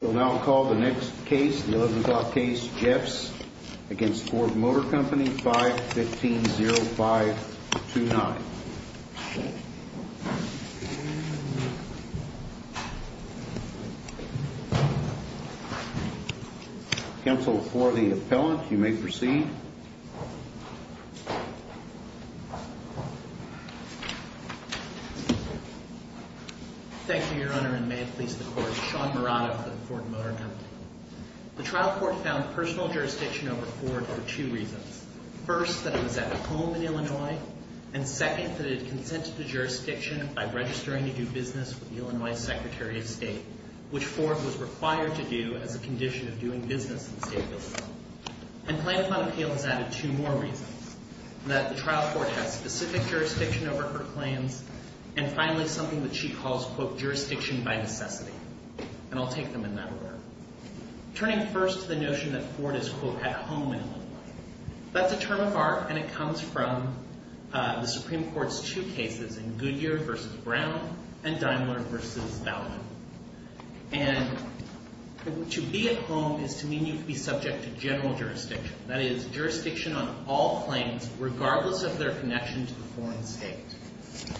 We'll now call the next case, the 11 o'clock case, Jeffs v. Ford Motor Company, 5-15-05-29. Counsel for the appellant, you may proceed. Thank you, Your Honor, and may it please the Court, Sean Murata for the Ford Motor Company. The trial court found personal jurisdiction over Ford for two reasons. First, that it was at home in Illinois, and second, that it had consented to jurisdiction by registering to do business with the Illinois Secretary of State, which Ford was required to do as a condition of doing business in the state of Illinois. And Plaintiff on Appeal has added two more reasons, that the trial court has specific jurisdiction over her claims, and finally, something that she calls, quote, jurisdiction by necessity. And I'll take them in that order. Turning first to the notion that Ford is, quote, at home in Illinois. That's a term of art, and it comes from the Supreme Court's two cases in Goodyear v. Brown and Daimler v. Bowman. And to be at home is to mean you'd be subject to general jurisdiction. That is, jurisdiction on all claims, regardless of their connection to the foreign state.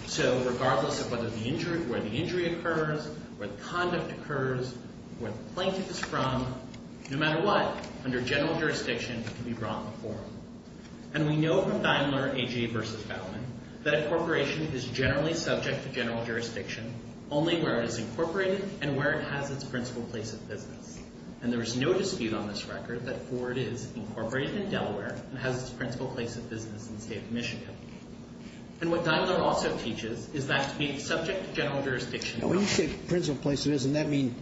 So, regardless of whether the injury, where the injury occurs, where the conduct occurs, where the plaintiff is from, no matter what, under general jurisdiction, you'd be brought in the forum. And we know from Daimler, A.J. v. Bowman, that a corporation is generally subject to general jurisdiction, only where it is incorporated and where it has its principal place of business. And there is no dispute on this record that Ford is incorporated in Delaware and has its principal place of business in the state of Michigan. And what Daimler also teaches is that to be subject to general jurisdiction. Now, when you say principal place of business, doesn't that mean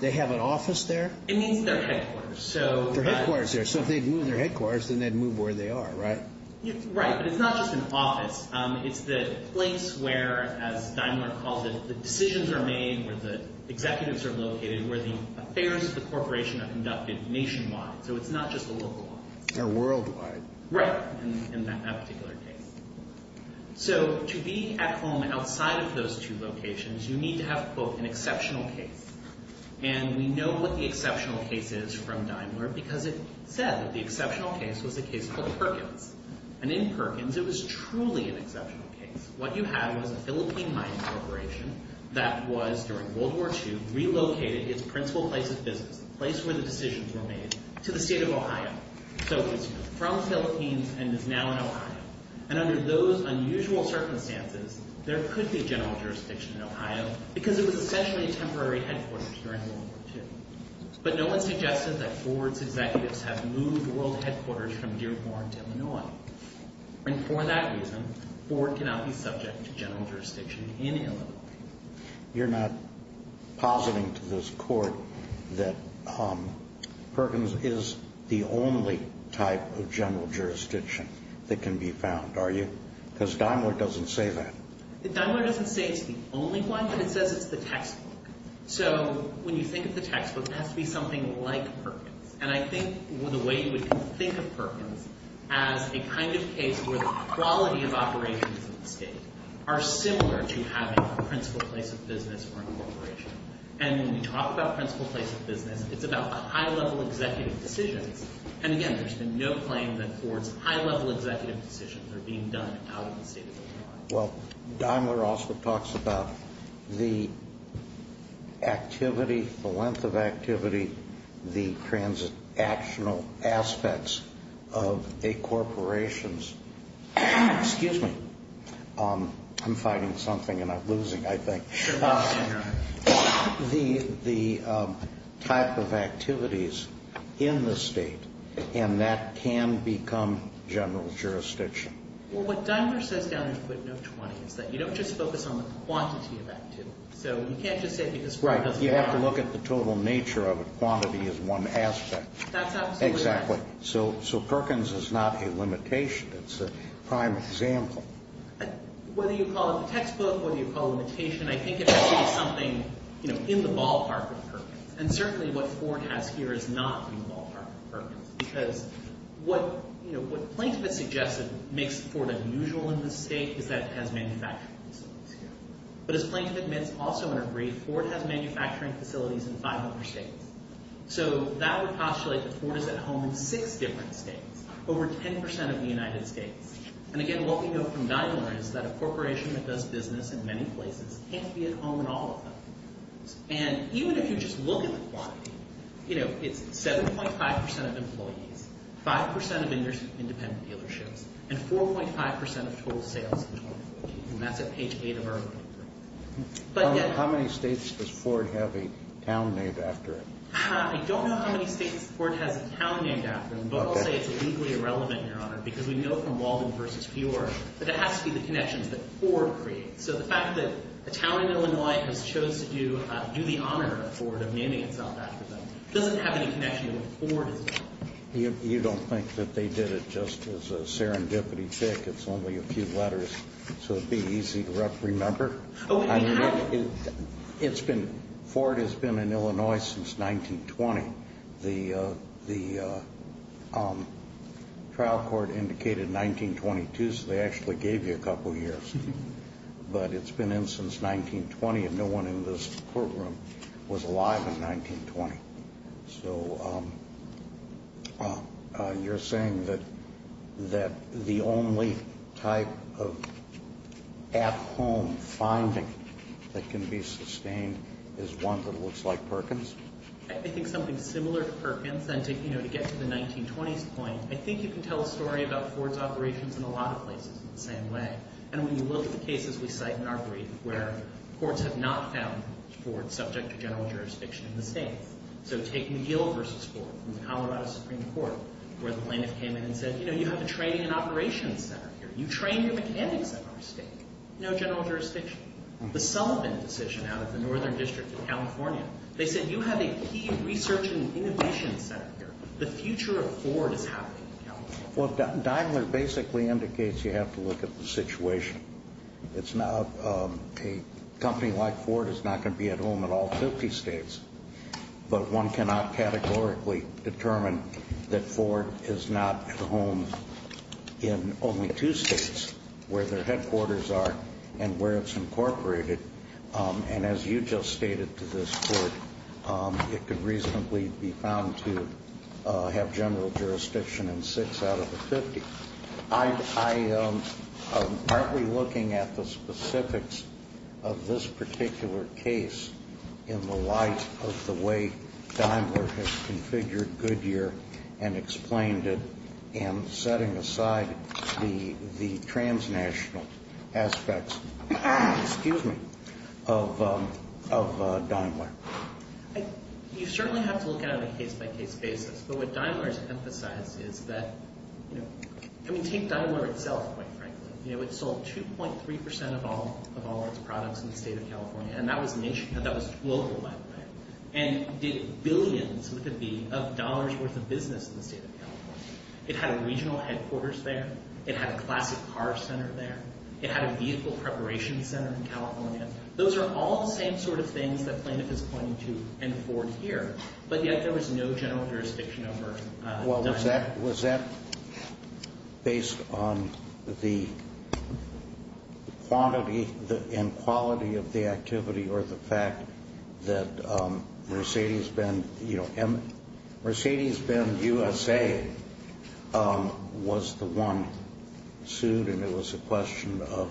they have an office there? It means their headquarters. Their headquarters there. So, if they'd move their headquarters, then they'd move where they are, right? Right. But it's not just an office. It's the place where, as Daimler calls it, the decisions are made, where the executives are located, where the affairs of the corporation are conducted nationwide. So, it's not just a local office. Or worldwide. Right. In that particular case. So, to be at home outside of those two locations, you need to have, quote, an exceptional case. And we know what the exceptional case is from Daimler because it said that the exceptional case was a case called Perkins. And in Perkins, it was truly an exceptional case. What you had was a Philippine mining corporation that was, during World War II, relocated its principal place of business, the place where the decisions were made, to the state of Ohio. So, it's from the Philippines and is now in Ohio. And under those unusual circumstances, there could be general jurisdiction in Ohio because it was essentially a temporary headquarters during World War II. But no one suggested that Ford's executives have moved world headquarters from Dearborn to Illinois. And for that reason, Ford cannot be subject to general jurisdiction in Illinois. You're not positing to this Court that Perkins is the only type of general jurisdiction that can be found, are you? Because Daimler doesn't say that. Daimler doesn't say it's the only one, but it says it's the textbook. So, when you think of the textbook, it has to be something like Perkins. And I think the way you would think of Perkins as a kind of case where the quality of operations in the state are similar to having a principal place of business or a corporation. And when we talk about principal place of business, it's about high-level executive decisions. And again, there's been no claim that Ford's high-level executive decisions are being done out of the state of Illinois. Well, Daimler also talks about the activity, the length of activity, the transactional aspects of a corporation's – excuse me, I'm finding something and I'm losing, I think – the type of activities in the state, and that can become general jurisdiction. Well, what Daimler says down in footnote 20 is that you don't just focus on the quantity of activity. So, you can't just say it because Ford doesn't want to. Right. You have to look at the total nature of it. Quantity is one aspect. That's absolutely right. Exactly. So, Perkins is not a limitation. It's a prime example. Whether you call it the textbook, whether you call it limitation, I think it has to be something in the ballpark of Perkins. And certainly what Ford has here is not in the ballpark of Perkins. Because what Plaintiff has suggested makes Ford unusual in this state is that it has manufacturing facilities here. But as Plaintiff admits also in her brief, Ford has manufacturing facilities in 500 states. So, that would postulate that Ford is at home in six different states, over 10% of the United States. And again, what we know from Daimler is that a corporation that does business in many places can't be at home in all of them. And even if you just look at the quantity, you know, it's 7.5% of employees, 5% of independent dealerships, and 4.5% of total sales. And that's at page 8 of our report. How many states does Ford have a town named after? I don't know how many states Ford has a town named after. But I'll say it's legally irrelevant, Your Honor, because we know from Walden v. Fjord that it has to be the connections that Ford creates. So, the fact that a town in Illinois has chose to do the honor of Ford of naming itself after them doesn't have any connection to what Ford has done. You don't think that they did it just as a serendipity check. It's only a few letters. So, it would be easy to remember. I mean, it's been – Ford has been in Illinois since 1920. The trial court indicated 1922, so they actually gave you a couple years. But it's been in since 1920, and no one in this courtroom was alive in 1920. So, you're saying that the only type of at-home finding that can be sustained is one that looks like Perkins? I think something similar to Perkins, and to get to the 1920s point, I think you can tell a story about Ford's operations in a lot of places in the same way. And when you look at the cases we cite in our brief where courts have not found Ford subject to general jurisdiction in the state. So, take McGill v. Ford in the Colorado Supreme Court where the plaintiff came in and said, you know, you have a training and operations center here. You train your mechanics at our state. No general jurisdiction. The Sullivan decision out of the Northern District of California, they said you have a key research and innovation center here. The future of Ford is happening in California. Well, Daimler basically indicates you have to look at the situation. It's not – a company like Ford is not going to be at home in all 50 states. But one cannot categorically determine that Ford is not at home in only two states where their headquarters are and where it's incorporated. And as you just stated to this court, it could reasonably be found to have general jurisdiction in six out of the 50. I'm partly looking at the specifics of this particular case in the light of the way Daimler has configured Goodyear and explained it and setting aside the transnational aspects – excuse me – of Daimler. You certainly have to look at it on a case-by-case basis. But what Daimler has emphasized is that – I mean, take Daimler itself, quite frankly. It sold 2.3 percent of all of its products in the state of California. And that was global, by the way. And did billions, it could be, of dollars' worth of business in the state of California. It had a regional headquarters there. It had a classic car center there. It had a vehicle preparation center in California. Those are all the same sort of things that Plaintiff is pointing to in Ford here. But yet there was no general jurisdiction over Daimler. Was that based on the quantity and quality of the activity or the fact that Mercedes-Benz USA was the one sued, and it was a question of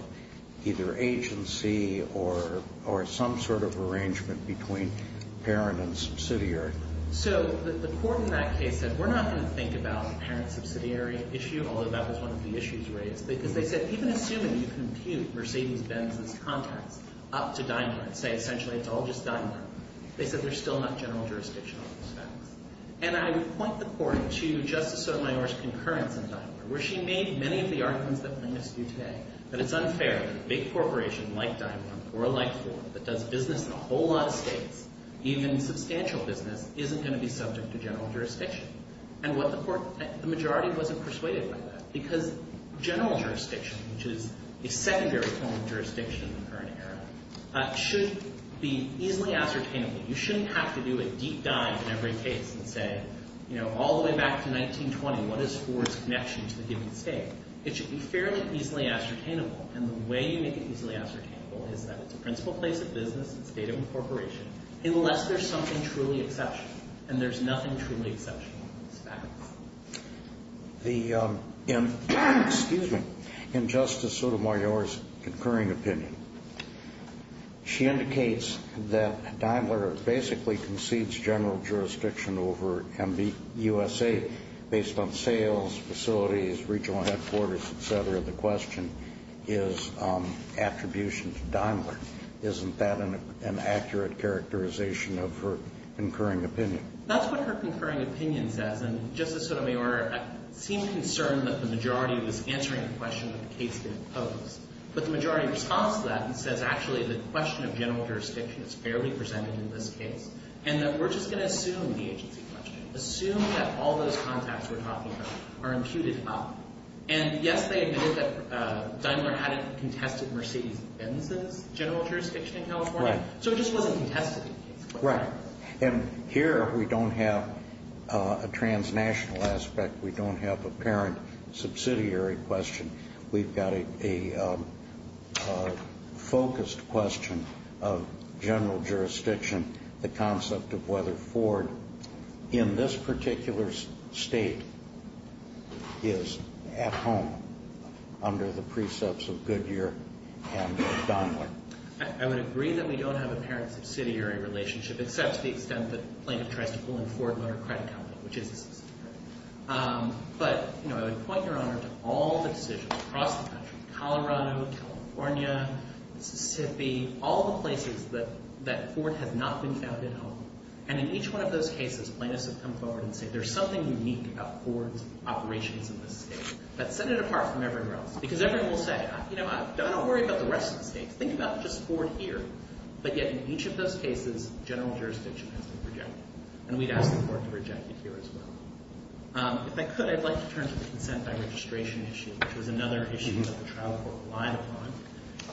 either agency or some sort of arrangement between parent and subsidiary? So the court in that case said, we're not going to think about the parent-subsidiary issue, although that was one of the issues raised, because they said, even assuming you compute Mercedes-Benz's contracts up to Daimler and say essentially it's all just Daimler, they said there's still not general jurisdiction on those facts. And I would point the court to Justice Sotomayor's concurrence in Daimler, where she made many of the arguments that Plaintiffs do today, that it's unfair that a big corporation like Daimler or like Ford that does business in a whole lot of states, even substantial business, isn't going to be subject to general jurisdiction. And the majority wasn't persuaded by that, because general jurisdiction, which is a secondary form of jurisdiction in the current era, should be easily ascertainable. You shouldn't have to do a deep dive in every case and say all the way back to 1920, what is Ford's connection to the given state? It should be fairly easily ascertainable. And the way you make it easily ascertainable is that it's a principal place of business, it's a state of incorporation, unless there's something truly exceptional. And there's nothing truly exceptional on those facts. The – excuse me – in Justice Sotomayor's concurring opinion, she indicates that Daimler basically concedes general jurisdiction over MBUSA based on sales, facilities, regional headquarters, et cetera. The question is attribution to Daimler. Isn't that an accurate characterization of her concurring opinion? That's what her concurring opinion says. And Justice Sotomayor seemed concerned that the majority was answering the question that the case didn't pose. But the majority responds to that and says, actually, the question of general jurisdiction is fairly presented in this case, and that we're just going to assume the agency question, assume that all those contacts we're talking about are imputed up. And, yes, they admitted that Daimler hadn't contested Mercedes-Benz's general jurisdiction in California. Right. So it just wasn't contested. Right. And here we don't have a transnational aspect. We don't have a parent subsidiary question. We've got a focused question of general jurisdiction, the concept of whether Ford, in this particular state, is at home under the precepts of Goodyear and Daimler. I would agree that we don't have a parent subsidiary relationship, except to the extent that plaintiff tries to pull in Ford Motor Credit Company, which is a subsidiary. But, you know, I would point Your Honor to all the decisions across the country, Colorado, California, Mississippi, all the places that Ford has not been found at home. And in each one of those cases, plaintiffs have come forward and said, there's something unique about Ford's operations in this state. But set it apart from everywhere else, because everyone will say, you know, don't worry about the rest of the states. Think about just Ford here. But yet in each of those cases, general jurisdiction has been rejected. And we'd ask the court to reject it here as well. If I could, I'd like to turn to the consent by registration issue, which was another issue that the trial court relied upon.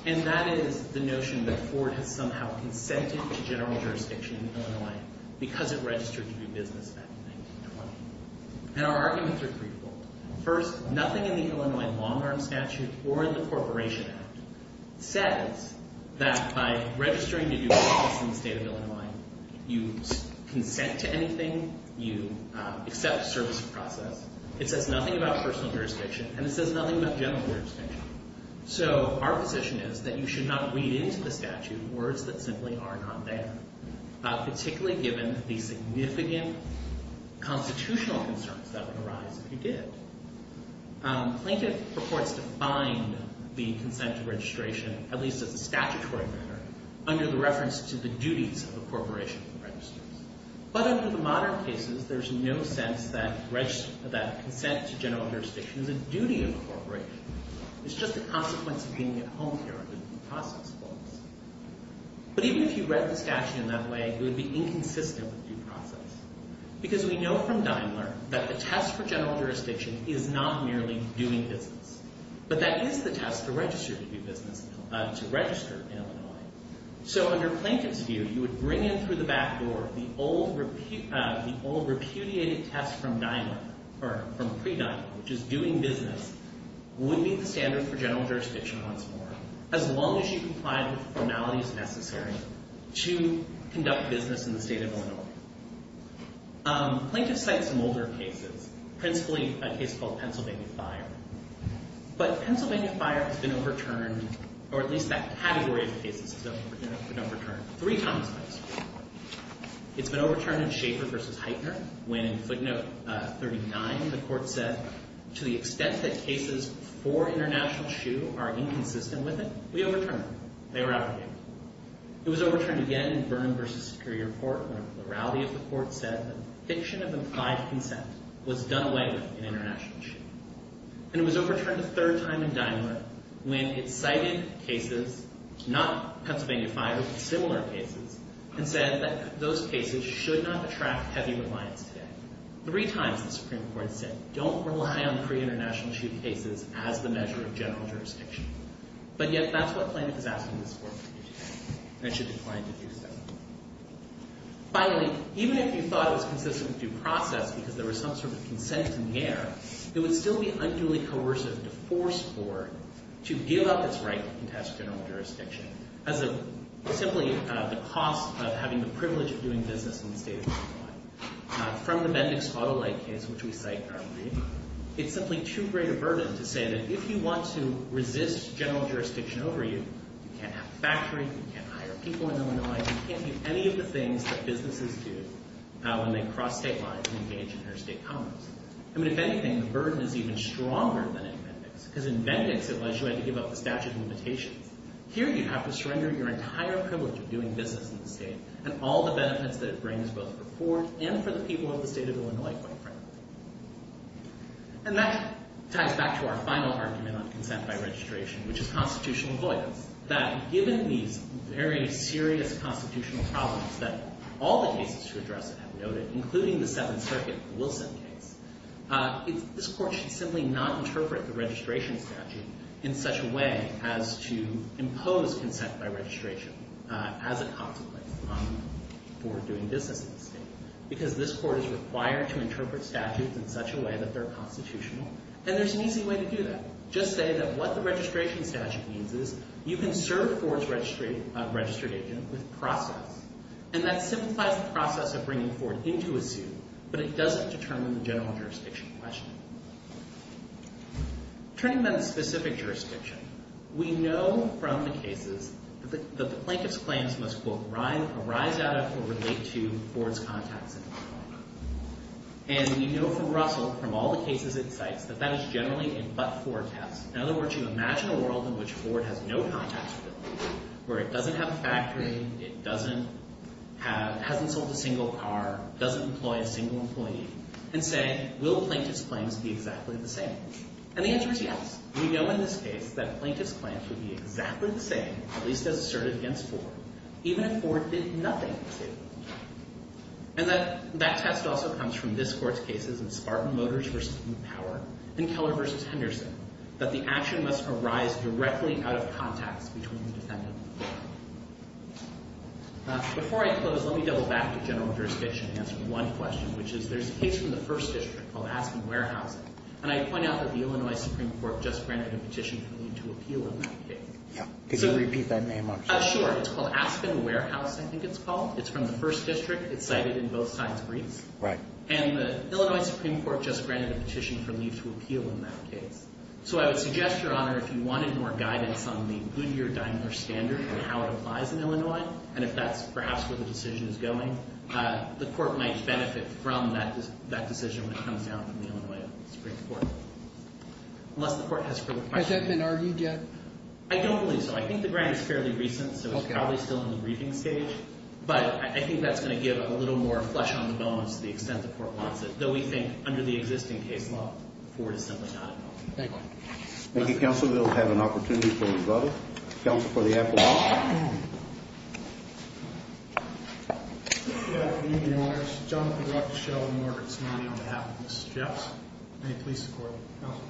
And that is the notion that Ford has somehow consented to general jurisdiction in Illinois because it registered to do business back in 1920. And our arguments are threefold. First, nothing in the Illinois long-term statute or in the Corporation Act says that by registering to do business in the state of Illinois, you consent to anything, you accept the service of process. It says nothing about personal jurisdiction, and it says nothing about general jurisdiction. So our position is that you should not read into the statute words that simply are not there, particularly given the significant constitutional concerns that would arise if you did. Plaintiff purports to find the consent to registration, at least as a statutory matter, under the reference to the duties of the corporation that registers. But under the modern cases, there's no sense that consent to general jurisdiction is a duty of the corporation. It's just a consequence of being at home here and reading the process books. But even if you read the statute in that way, it would be inconsistent with due process because we know from Daimler that the test for general jurisdiction is not merely doing business, but that is the test to register to do business, to register in Illinois. So under Plaintiff's view, you would bring in through the back door the old repudiated test from pre-Daimler, which is doing business, would be the standard for general jurisdiction once more, as long as you complied with the formalities necessary to conduct business in the state of Illinois. Plaintiff cites some older cases, principally a case called Pennsylvania Fire. But Pennsylvania Fire has been overturned, or at least that category of cases has been overturned three times by the Supreme Court. It's been overturned in Schaefer v. Heitner when in footnote 39 the court said, to the extent that cases for international shoe are inconsistent with it, we overturned them. They were out of the game. It was overturned again in Vernon v. Superior Court when the plurality of the court said that the eviction of implied consent was done away with in international shoe. And it was overturned a third time in Daimler when it cited cases, not Pennsylvania Fire, but similar cases, and said that those cases should not attract heavy reliance today. Three times the Supreme Court said don't rely on pre-international shoe cases as the measure of general jurisdiction. But yet that's what Plaintiff is asking this court to do today, and it should decline to do so. Finally, even if you thought it was consistent with due process because there was some sort of consent in the air, it would still be unduly coercive to force court to give up its right to contest general jurisdiction as simply the cost of having the privilege of doing business in the state of Illinois. From the Bendix-Faudelite case, which we cite in our brief, it's simply too great a burden to say that if you want to resist general jurisdiction over you, you can't have a factory, you can't hire people in Illinois, and you can't do any of the things that businesses do when they cross state lines and engage in their state commerce. I mean, if anything, the burden is even stronger than in Bendix, because in Bendix it was you had to give up the statute of limitations. Here you have to surrender your entire privilege of doing business in the state and all the benefits that it brings both for the court and for the people of the state of Illinois quite frankly. And that ties back to our final argument on consent by registration, which is constitutional avoidance, that given these very serious constitutional problems that all the cases to address it have noted, including the Seventh Circuit Wilson case, this court should simply not interpret the registration statute in such a way as to impose consent by registration as a consequence for doing business in the state, because this court is required to interpret statutes in such a way that they're constitutional, and there's an easy way to do that. Just say that what the registration statute means is you can serve Ford's registered agent with process, and that simplifies the process of bringing Ford into a suit, but it doesn't determine the general jurisdiction question. Turning then to specific jurisdiction, we know from the cases that the plaintiff's claims must, quote, arise out of or relate to Ford's contacts in Illinois. And we know from Russell, from all the cases it cites, that that is generally a but-for test. In other words, you imagine a world in which Ford has no contacts, where it doesn't have a factory, it hasn't sold a single car, doesn't employ a single employee, and say, will plaintiff's claims be exactly the same? And the answer is yes. We know in this case that plaintiff's claims would be exactly the same, at least as asserted against Ford, even if Ford did nothing to him. And that test also comes from this Court's cases in Spartan Motors v. New Power and Keller v. Henderson, that the action must arise directly out of contacts between the defendant. Before I close, let me double back to general jurisdiction and answer one question, which is there's a case from the First District called Aspen Warehouse, and I point out that the Illinois Supreme Court just granted a petition for me to appeal on that case. Could you repeat that name, Mark? Sure. It's called Aspen Warehouse, I think it's called. It's from the First District. It's cited in both sides' briefs. Right. And the Illinois Supreme Court just granted a petition for me to appeal on that case. So I would suggest, Your Honor, if you wanted more guidance on the Goodyear-Daimler standard and how it applies in Illinois, and if that's perhaps where the decision is going, the Court might benefit from that decision when it comes down from the Illinois Supreme Court. Unless the Court has further questions. Has that been argued yet? I don't believe so. I think the grant is fairly recent, so it's probably still in the briefing stage. But I think that's going to give a little more flesh on the bones to the extent the Court wants it, though we think under the existing case law, Ford is simply not involved. Thank you. Thank you, Counsel. We'll have an opportunity for another. Counsel for the appeal. Good evening, Your Honors. Jonathan Rock, Michelle and Margaret Smiley on behalf of Mrs. Jeffs. May it please the Court. Counsel.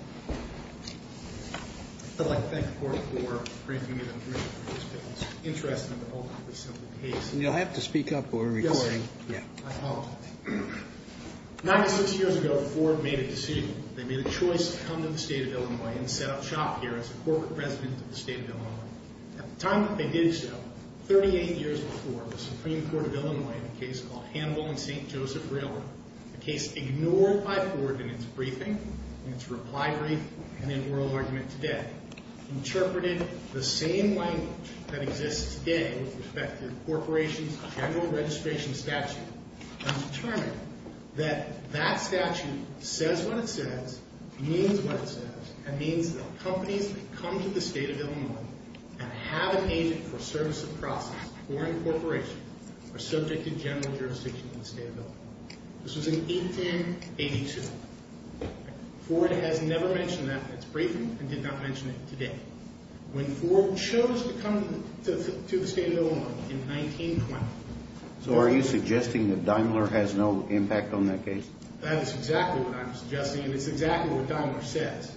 I'd like to thank the Court for granting me the permission for this case. You'll have to speak up for a recording. I apologize. Ninety-six years ago, Ford made a decision. They made a choice to come to the State of Illinois and set up shop here as a corporate resident of the State of Illinois. At the time that they did so, 38 years before, the Supreme Court of Illinois in a case called Hannibal and St. Joseph Railroad, a case ignored by Ford in its briefing, in its reply brief, and in oral argument today, interpreted the same language that exists today with respect to the corporation's general registration statute and determined that that statute says what it says, means what it says, and means that companies that come to the State of Illinois and have an agent for service of process for a corporation are subject to general jurisdiction in the State of Illinois. This was in 1882. Ford has never mentioned that in its briefing and did not mention it today. When Ford chose to come to the State of Illinois in 1920. So are you suggesting that Daimler has no impact on that case? That is exactly what I'm suggesting, and it's exactly what Daimler says.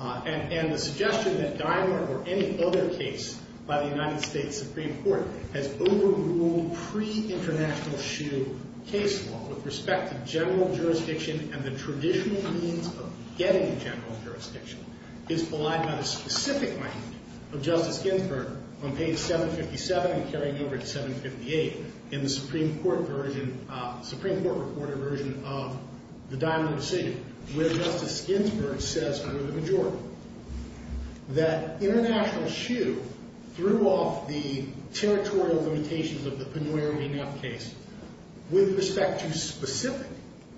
And the suggestion that Daimler or any other case by the United States Supreme Court has overruled pre-international SHU case law with respect to general jurisdiction and the traditional means of getting general jurisdiction is belied by the specific language of Justice Ginsburg on page 757 and carrying over to 758 in the Supreme Court version, Supreme Court reported version of the Daimler decision where Justice Ginsburg says under the majority that international SHU threw off the territorial limitations of the Penoyer v. Neff case with respect to specific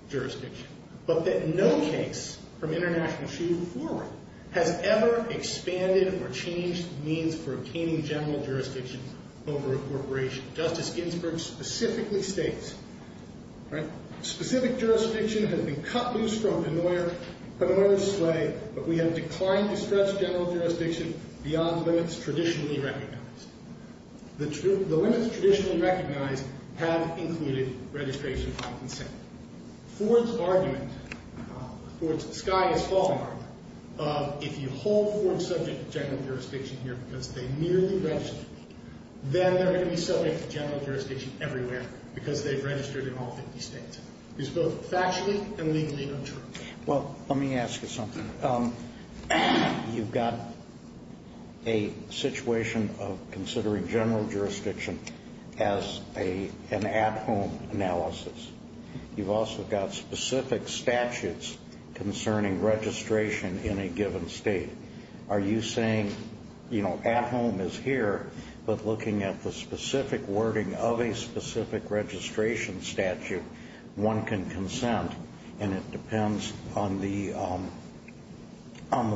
jurisdiction but that no case from international SHU before it has ever expanded or changed the means for obtaining general jurisdiction over a corporation. Justice Ginsburg specifically states, right, specific jurisdiction has been cut loose from Penoyer's sway, but we have declined to stretch general jurisdiction beyond limits traditionally recognized. The limits traditionally recognized have included registration and consent. Ford's argument, Ford's sky is falling argument, if you hold Ford subject to general jurisdiction here because they merely registered, then they're going to be subject to general jurisdiction everywhere because they've registered in all 50 states. It's both factually and legally untrue. Well, let me ask you something. You've got a situation of considering general jurisdiction as an at-home analysis. You've also got specific statutes concerning registration in a given state. Are you saying, you know, at-home is here, but looking at the specific wording of a specific registration statute, one can consent, and it depends on the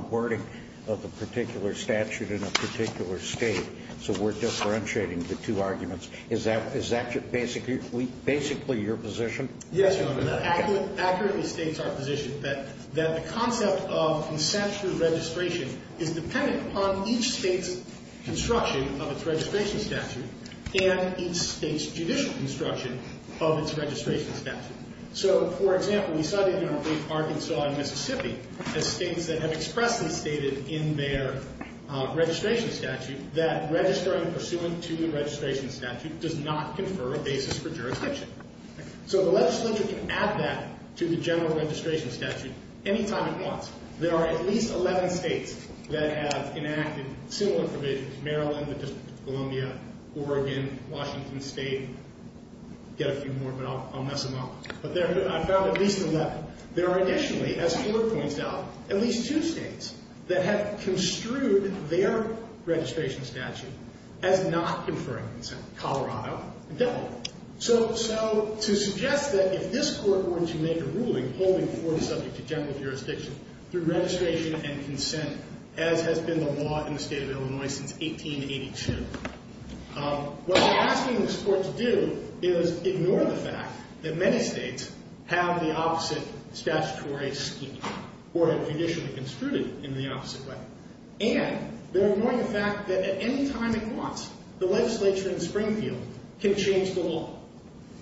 wording of the particular statute in a particular state. So we're differentiating the two arguments. Is that basically your position? Yes, Your Honor. That accurately states our position that the concept of consensual registration is dependent upon each state's construction of its registration statute and each state's judicial construction of its registration statute. So, for example, we cited in our brief Arkansas and Mississippi as states that have expressly stated in their registration statute that registering pursuant to the registration statute does not confer a basis for jurisdiction. So the legislature can add that to the general registration statute any time it wants. There are at least 11 states that have enacted similar provisions, Maryland, the District of Columbia, Oregon, Washington State, get a few more, but I'll mess them up. But I found at least 11. There are additionally, as Ford points out, at least two states that have construed their registration statute as not conferring consent, Colorado and Delaware. So to suggest that if this Court were to make a ruling holding Ford subject to general jurisdiction through registration and consent, as has been the law in the state of Illinois since 1882, what they're asking this Court to do is ignore the fact that many states have the opposite statutory scheme or have judicially construed it in the opposite way. And they're ignoring the fact that at any time it wants, the legislature in Springfield can change the law,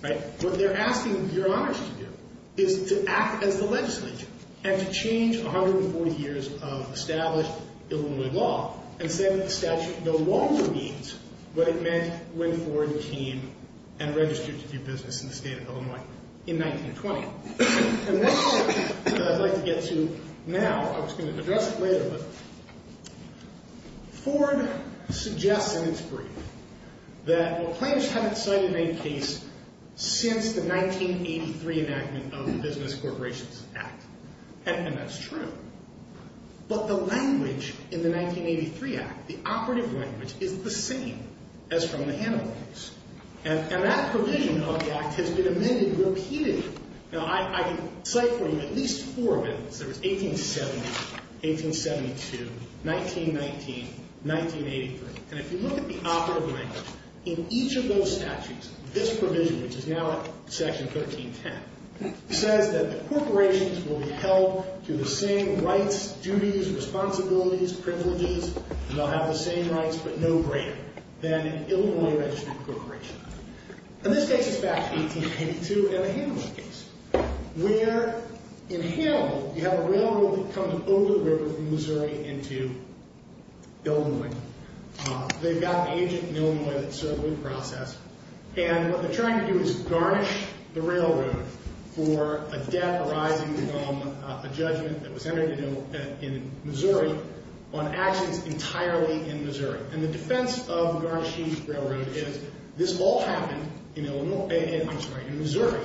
right? What they're asking Your Honors to do is to act as the legislature and to change 140 years of established Illinois law and say that the statute no longer needs what it meant when Ford came and registered to do business in the state of Illinois in 1920. And that's something that I'd like to get to now. I was going to address it later, but Ford suggests in its brief that the plaintiffs haven't cited any case since the 1983 enactment of the Business Corporations Act, and that's true. But the language in the 1983 act, the operative language, is the same as from the Hanover case. And that provision of the act has been amended repeatedly. Now, I can cite for you at least four of it. There was 1870, 1872, 1919, 1983. And if you look at the operative language in each of those statutes, this provision, which is now Section 1310, says that the corporations will be held to the same rights, duties, responsibilities, privileges, and they'll have the same rights but no greater than an Illinois-registered corporation. And this takes us back to 1882 and the Hanover case, where in Hanover you have a railroad that comes over the river from Missouri into Illinois. They've got an agent in Illinois that's sort of in the process, and what they're trying to do is garnish the railroad for a debt arising from a judgment that was entered in Missouri on actions entirely in Missouri. And the defense of the garnishing of the railroad is this all happened in Missouri,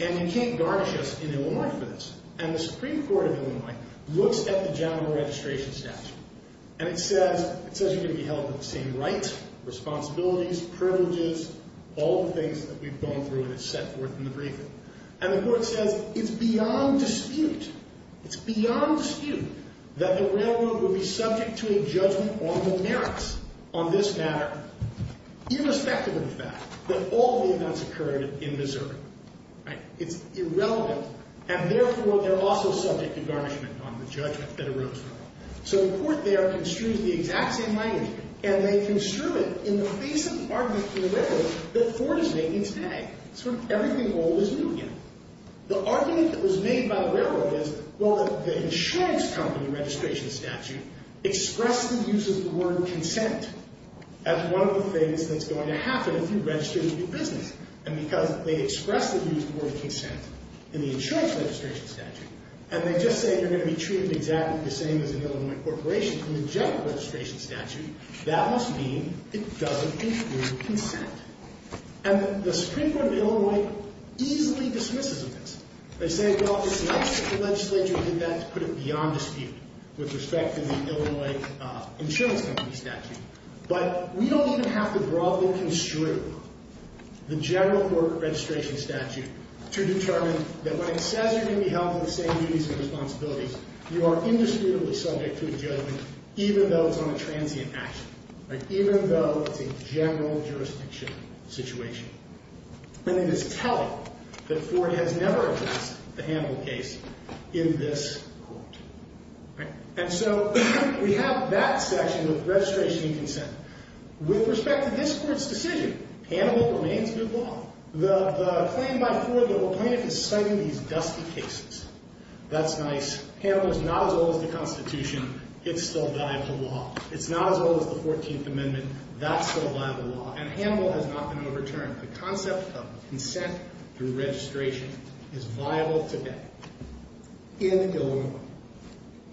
and you can't garnish us in Illinois for this. And the Supreme Court of Illinois looks at the general registration statute, and it says you're going to be held to the same rights, responsibilities, privileges, all the things that we've gone through, and it's set forth in the briefing. And the court says it's beyond dispute, it's beyond dispute, that the railroad would be subject to a judgment on the merits on this matter, irrespective of the fact that all the events occurred in Missouri. It's irrelevant, and therefore they're also subject to garnishment on the judgment that arose from it. So the court there construed the exact same language, and they construed it in the basic argument for the railroad that Ford is making today. Sort of everything old is new again. The argument that was made by the railroad is, well, the insurance company registration statute expressly uses the word consent as one of the things that's going to happen if you register to do business. And because they expressly use the word consent in the insurance registration statute, and they just say you're going to be treated exactly the same as an Illinois corporation from the general registration statute, that must mean it doesn't include consent. And the Supreme Court of Illinois easily dismisses of this. They say, well, it's nice that the legislature did that to put it beyond dispute with respect to the Illinois insurance company statute, but we don't even have to broadly construe the general court registration statute to determine that when it says you're going to be held to the same duties and responsibilities, you are indisputably subject to a judgment even though it's on a transient action, even though it's a general jurisdiction situation. And it is telling that Ford has never addressed the Hannibal case in this court. And so we have that section of registration and consent. With respect to this court's decision, Hannibal remains good law. The claim by Ford that will plaintiff is citing these dusty cases, that's nice. Hannibal is not as old as the Constitution. It's still viable law. It's not as old as the 14th Amendment. That's still viable law. And Hannibal has not been overturned. The concept of consent through registration is viable today in Illinois.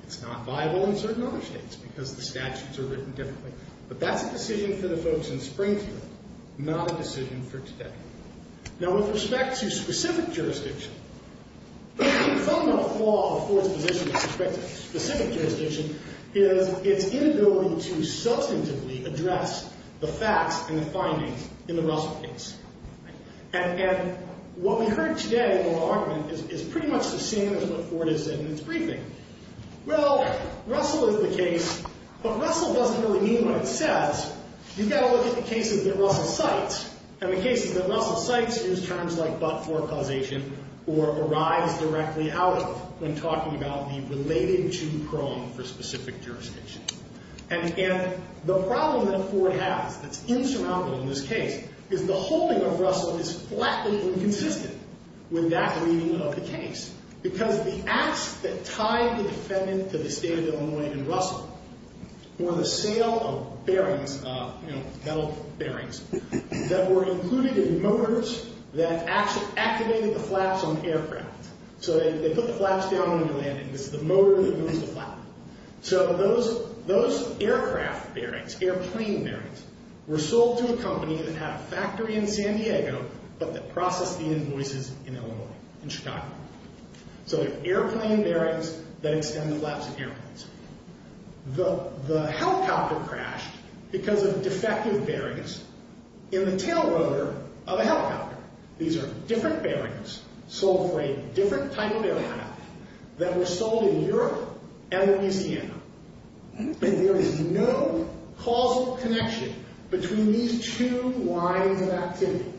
It's not viable in certain other states because the statutes are written differently. But that's a decision for the folks in Springfield, not a decision for today. Now, with respect to specific jurisdiction, the fundamental flaw of Ford's position with respect to specific jurisdiction is its inability to substantively address the facts and the findings in the Russell case. And what we heard today in the law argument is pretty much the same as what Ford has said in its briefing. Well, Russell is the case, but Russell doesn't really mean what it says. You've got to look at the cases that Russell cites. And the cases that Russell cites use terms like but-for causation or arise directly out of when talking about the related to prong for specific jurisdiction. And the problem that Ford has that's insurmountable in this case is the holding of Russell is flatly inconsistent with that reading of the case because the acts that tied the defendant to the state of Illinois in Russell were the sale of bearings, metal bearings, that were included in motors that activated the flaps on aircraft. So they put the flaps down when you're landing. It's the motor that moves the flap. So those aircraft bearings, airplane bearings, were sold to a company that had a factory in San Diego but that processed the invoices in Illinois, in Chicago. So they're airplane bearings that extend the flaps of airplanes. The helicopter crashed because of defective bearings in the tail rotor of a helicopter. These are different bearings sold for a different type of aircraft that were sold in Europe and Louisiana. There is no causal connection between these two lines of activity,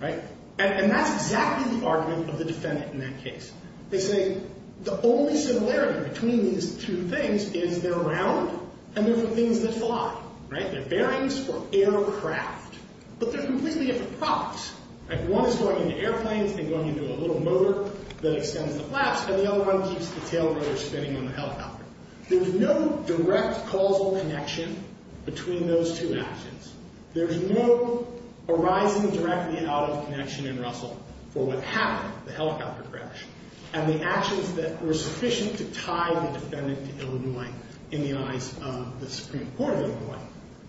right? And that's exactly the argument of the defendant in that case. They say the only similarity between these two things is they're round and they're for things that fly, right? They're bearings for aircraft. But they're completely different products, right? One is going into airplanes and going into a little motor that extends the flaps, and the other one keeps the tail rotor spinning on the helicopter. There's no direct causal connection between those two actions. There is no arising directly out of connection in Russell for what happened, the helicopter crash, and the actions that were sufficient to tie the defendant to Illinois in the eyes of the Supreme Court of Illinois.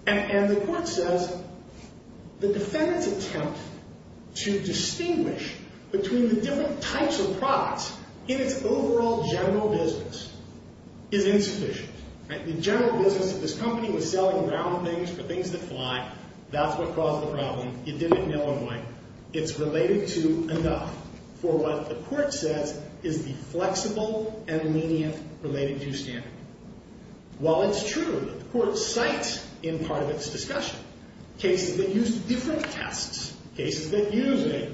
And the court says the defendant's attempt to distinguish between the different types of products in its overall general business is insufficient, right? The general business of this company was selling round things for things that fly. That's what caused the problem. It did it in Illinois. It's related to enough for what the court says is the flexible and lenient related-to standard. While it's true that the court cites in part of its discussion cases that use different tests, cases that use a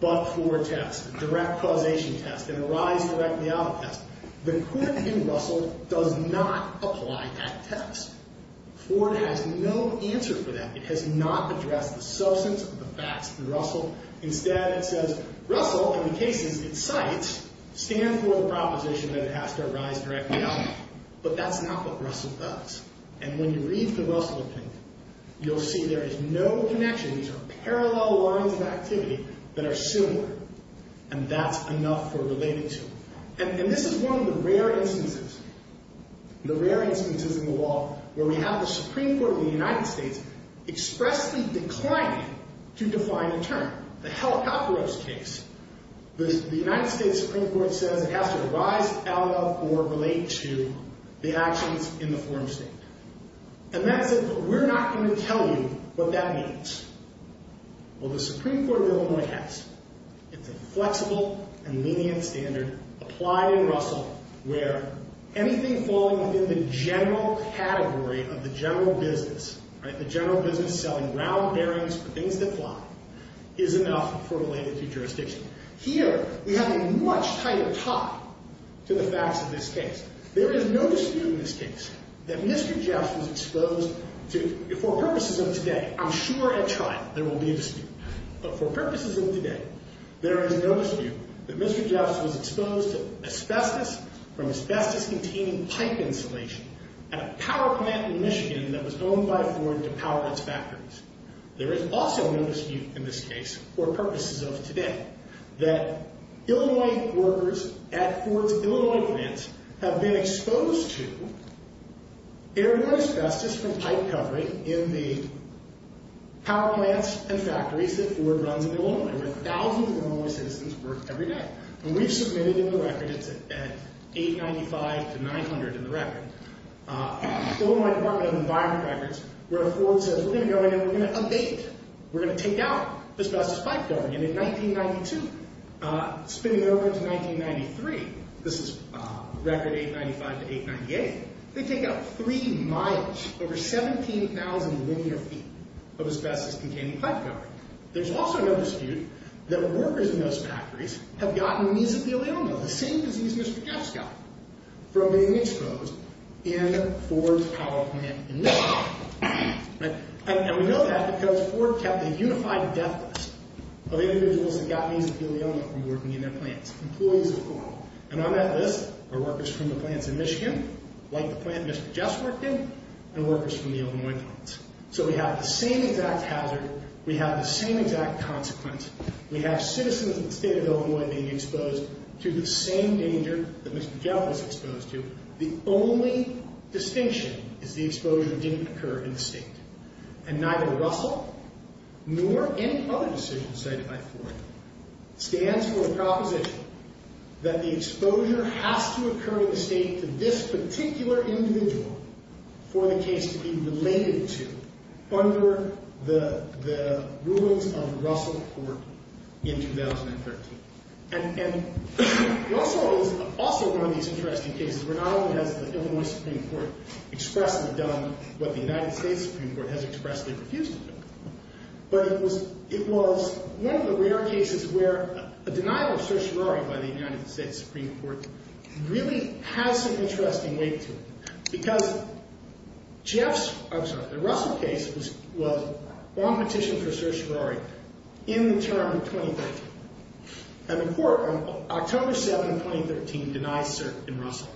but-for test, a direct causation test, and a rise-directly-out test, the court in Russell does not apply that test. Ford has no answer for that. It has not addressed the substance of the facts in Russell. Instead, it says, Russell, in the cases it cites, stands for the proposition that it has to arise directly out. But that's not what Russell does. And when you read the Russell opinion, you'll see there is no connection. These are parallel lines of activity that are similar, and that's enough for related-to. And this is one of the rare instances, the rare instances in the law, where we have the Supreme Court of the United States expressly declining to define a term, the Helicopteros case. The United States Supreme Court says it has to arise out of or relate to the actions in the foreign state. And that's it. But we're not going to tell you what that means. Well, the Supreme Court of Illinois has. It's a flexible and lenient standard applied in Russell where anything falling within the general category of the general business, the general business selling ground bearings for things that fly, is enough for related-to jurisdiction. Here, we have a much tighter tie to the facts of this case. There is no dispute in this case that Mr. Jeffs was exposed to, for purposes of today, I'm sure at trial there will be a dispute, but for purposes of today, there is no dispute that Mr. Jeffs was exposed to asbestos from asbestos-containing pipe insulation at a power plant in Michigan that was owned by Ford to power its factories. There is also no dispute in this case, for purposes of today, that Illinois workers at Ford's Illinois plants have been exposed to Illinois asbestos from pipe covering in the power plants and factories that Ford runs in Illinois, where thousands of Illinois citizens work every day. And we've submitted in the record, it's at 895 to 900 in the record, the Illinois Department of Environment records, where Ford says, we're going to go in and we're going to abate it. We're going to take out asbestos pipe covering. And in 1992, spinning over to 1993, this is record 895 to 898, they take out three miles, over 17,000 linear feet, of asbestos-containing pipe covering. There's also no dispute that workers in those factories have gotten mesothelioma, the same disease Mr. Jeffs got from being exposed in Ford's power plant in Michigan. And we know that because Ford kept a unified death list of individuals that got mesothelioma from working in their plants, employees of Ford. And on that list are workers from the plants in Michigan, like the plant Mr. Jeffs worked in, and workers from the Illinois plants. So we have the same exact hazard. We have the same exact consequence. We have citizens of the state of Illinois being exposed to the same danger that Mr. Jeffs was exposed to. The only distinction is the exposure didn't occur in the state. And neither Russell nor any other decision cited by Ford stands for a proposition that the exposure has to occur in the state to this particular individual for the case to be related to under the rules of Russell Court in 2013. And Russell is also one of these interesting cases where not only has the Illinois Supreme Court expressly done what the United States Supreme Court has expressly refused to do, but it was one of the rare cases where a denial of certiorari by the United States Supreme Court really has an interesting weight to it. Because Jeffs, I'm sorry, the Russell case was on petition for certiorari in the term of 2013. And the court on October 7, 2013, denies cert in Russell.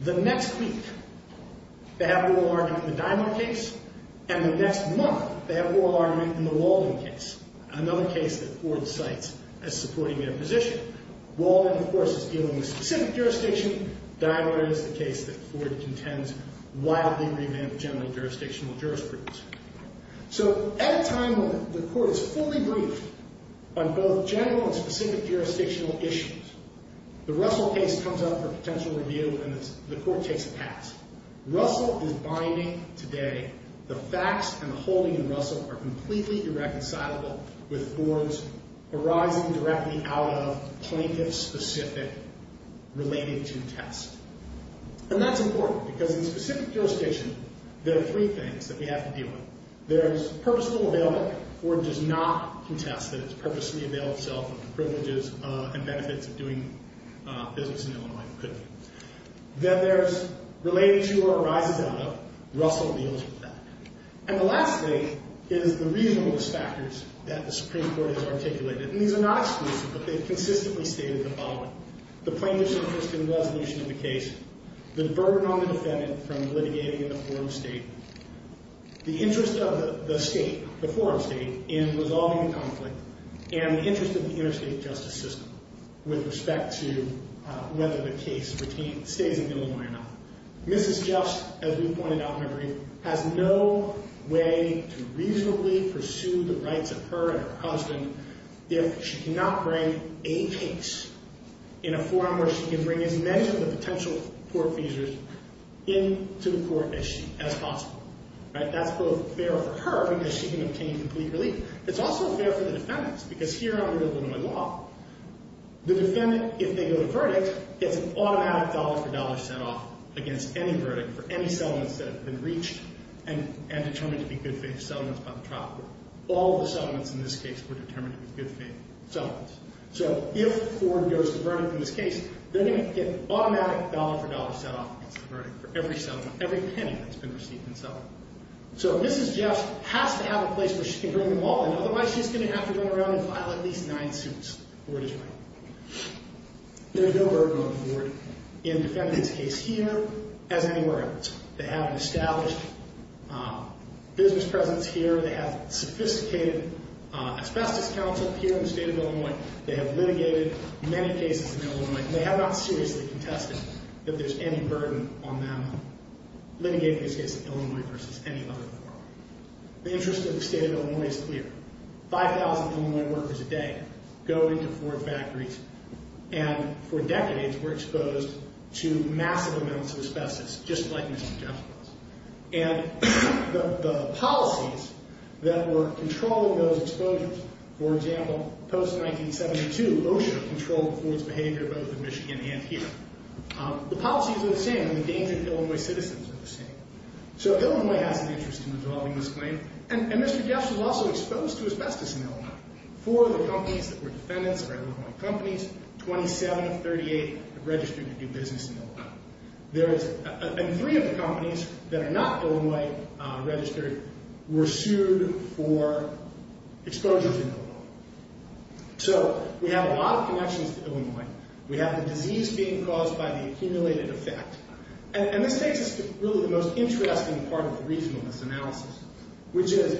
The next week, they have oral argument in the Dimond case. And the next month, they have oral argument in the Walden case, another case that Ford cites as supporting their position. Walden, of course, is dealing with specific jurisdiction. Dimond is the case that Ford contends wildly revamped general jurisdictional jurisprudence. So at a time when the court is fully briefed on both general and specific jurisdictional issues, the Russell case comes up for potential review and the court takes a pass. Russell is binding today. The facts and the holding in Russell are completely irreconcilable with Ford's arising directly out of plaintiff-specific related to test. And that's important because in specific jurisdiction, there are three things that we have to deal with. There's purposeful availment. Then there's related to or arises out of. Russell deals with that. And the last thing is the reasonableness factors that the Supreme Court has articulated. And these are not exclusive, but they've consistently stated the following. The plaintiff's interest in resolution of the case. The burden on the defendant from litigating in the forum state. The interest of the state, the forum state, in resolving the conflict. And the interest of the interstate justice system with respect to whether the case stays in Illinois or not. Mrs. Jeffs, as we pointed out in her brief, has no way to reasonably pursue the rights of her and her husband if she cannot bring a case in a forum where she can bring as many of the potential court feasors into the court as possible. That's both fair for her because she can obtain complete relief. It's also fair for the defendants because here under Illinois law, the defendant, if they go to verdict, gets an automatic dollar-for-dollar set-off against any verdict for any settlements that have been reached and determined to be good faith settlements by the trial court. All the settlements in this case were determined to be good faith settlements. So if Ford goes to verdict in this case, then he would get automatic dollar-for-dollar set-off against the verdict for every settlement, every penny that's been received in settlement. So Mrs. Jeffs has to have a place where she can bring them all in. Otherwise, she's going to have to run around and file at least nine suits. The court is right. There's no burden on the court in defending this case here as anywhere else. They have an established business presence here. They have sophisticated asbestos counsel here in the state of Illinois. They have litigated many cases in Illinois. And they have not seriously contested that there's any burden on them litigating this case in Illinois versus any other court. The interest of the state of Illinois is clear. 5,000 Illinois workers a day go into Ford factories, and for decades were exposed to massive amounts of asbestos, just like Mrs. Jeffs was. And the policies that were controlling those exposures, for example, post-1972, OSHA controlled Ford's behavior both in Michigan and here. The policies are the same, and the danger to Illinois citizens are the same. So Illinois has an interest in resolving this claim. And Mr. Jeffs was also exposed to asbestos in Illinois. Four of the companies that were defendants of Illinois companies, 27 of 38, have registered to do business in Illinois. And three of the companies that are not Illinois-registered were sued for exposures in Illinois. So we have a lot of connections to Illinois. We have the disease being caused by the accumulated effect. And this takes us to really the most interesting part of the reason on this analysis, which is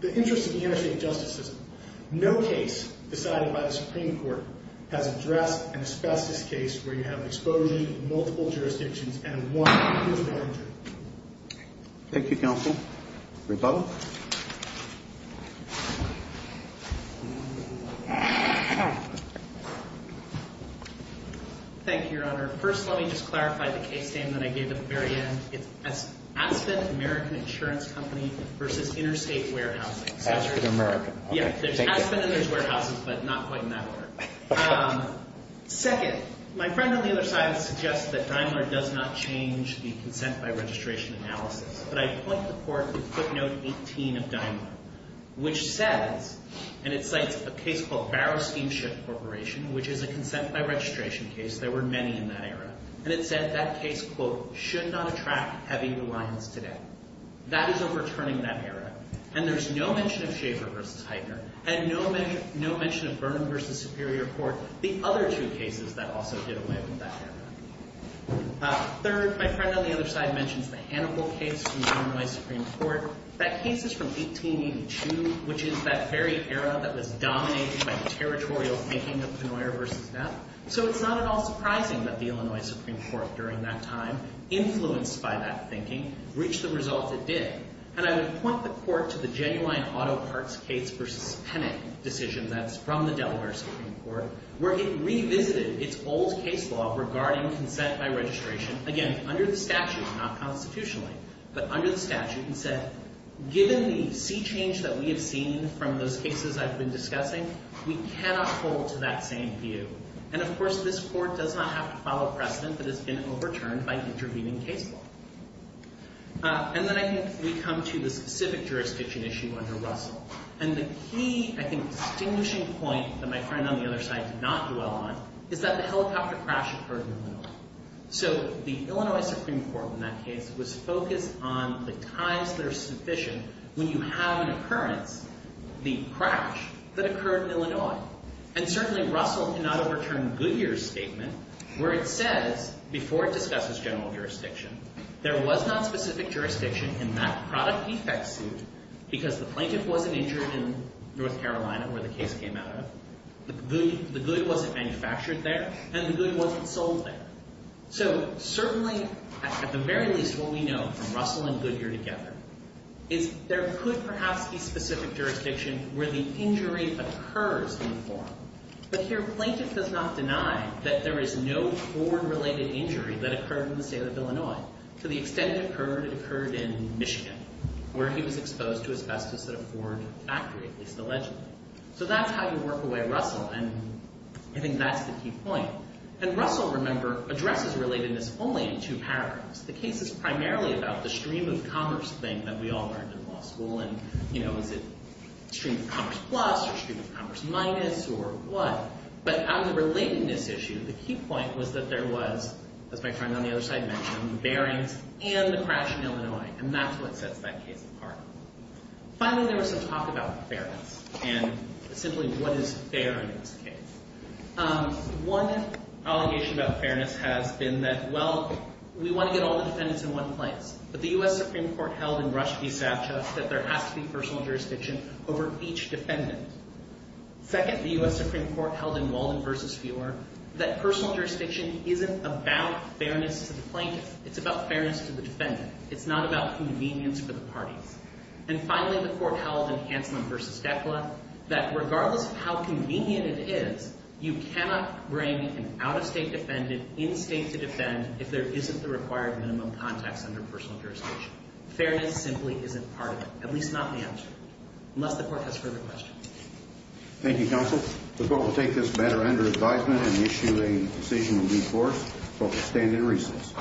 the interest of the interstate justice system. No case decided by the Supreme Court has addressed an asbestos case where you have exposure to multiple jurisdictions and one individual injury. Thank you, Counsel. Rebuttal. Thank you, Your Honor. First, let me just clarify the case name that I gave at the very end. It's Aspen American Insurance Company v. Interstate Warehousing. Aspen American. Yeah, there's Aspen and there's warehouses, but not quite in that order. Second, my friend on the other side has suggested that Daimler does not change the consent-by-registration analysis. But I point the court to footnote 18 of Daimler, which says, and it cites a case called Barrow Steamship Corporation, which is a consent-by-registration case. There were many in that era. And it said that case, quote, should not attract heavy reliance today. That is overturning that era. And there's no mention of Schaefer v. Heitner and no mention of Vernon v. Superior Court, the other two cases that also did away with that era. Third, my friend on the other side mentions the Hannibal case from the Illinois Supreme Court. That case is from 1882, which is that very era that was dominated by the territorial thinking of Penoyer v. Neff. So it's not at all surprising that the Illinois Supreme Court during that time, influenced by that thinking, reached the results it did. And I would point the court to the Genuine Auto Parts case v. Penick decision that's from the Delaware Supreme Court, where it revisited its old case law regarding consent-by-registration. Again, under the statute, not constitutionally, but under the statute. And said, given the sea change that we have seen from those cases I've been discussing, we cannot hold to that same view. And of course, this court does not have to follow precedent that has been overturned by intervening case law. And then I think we come to the specific jurisdiction issue under Russell. And the key, I think, distinguishing point that my friend on the other side did not dwell on is that the helicopter crash occurred in Illinois. So the Illinois Supreme Court in that case was focused on the times that are sufficient when you have an occurrence, the crash, that occurred in Illinois. And certainly, Russell cannot overturn Goodyear's statement where it says, before it discusses general jurisdiction, there was not specific jurisdiction in that product defect suit because the plaintiff wasn't injured in North Carolina where the case came out of. The good wasn't manufactured there, and the good wasn't sold there. So certainly, at the very least, what we know from Russell and Goodyear together is there could perhaps be specific jurisdiction where the injury occurs in the form. But here, plaintiff does not deny that there is no Ford-related injury that occurred in the state of Illinois. To the extent it occurred, it occurred in Michigan, where he was exposed to asbestos at a Ford factory, at least allegedly. So that's how you work away Russell, and I think that's the key point. And Russell, remember, addresses relatedness only in two paragraphs. The case is primarily about the stream of commerce thing that we all learned in law school. And, you know, is it stream of commerce plus or stream of commerce minus or what? But on the relatedness issue, the key point was that there was, as my friend on the other side mentioned, the bearings and the crash in Illinois. And that's what sets that case apart. Finally, there was some talk about fairness and simply what is fair in this case. One allegation about fairness has been that, well, we want to get all the defendants in one place. But the U.S. Supreme Court held in Rush v. Savchuk that there has to be personal jurisdiction over each defendant. Second, the U.S. Supreme Court held in Walden v. Feuer that personal jurisdiction isn't about fairness to the plaintiff. It's about fairness to the defendant. It's not about convenience for the parties. And finally, the court held in Hanselman v. Decla that regardless of how convenient it is, you cannot bring an out-of-state defendant in-state to defend if there isn't the required minimum context under personal jurisdiction. Fairness simply isn't part of it, at least not in the answer, unless the court has further questions. Thank you, counsel. The court will take this matter under advisement and issue a decision in due course. The court will stand in recess.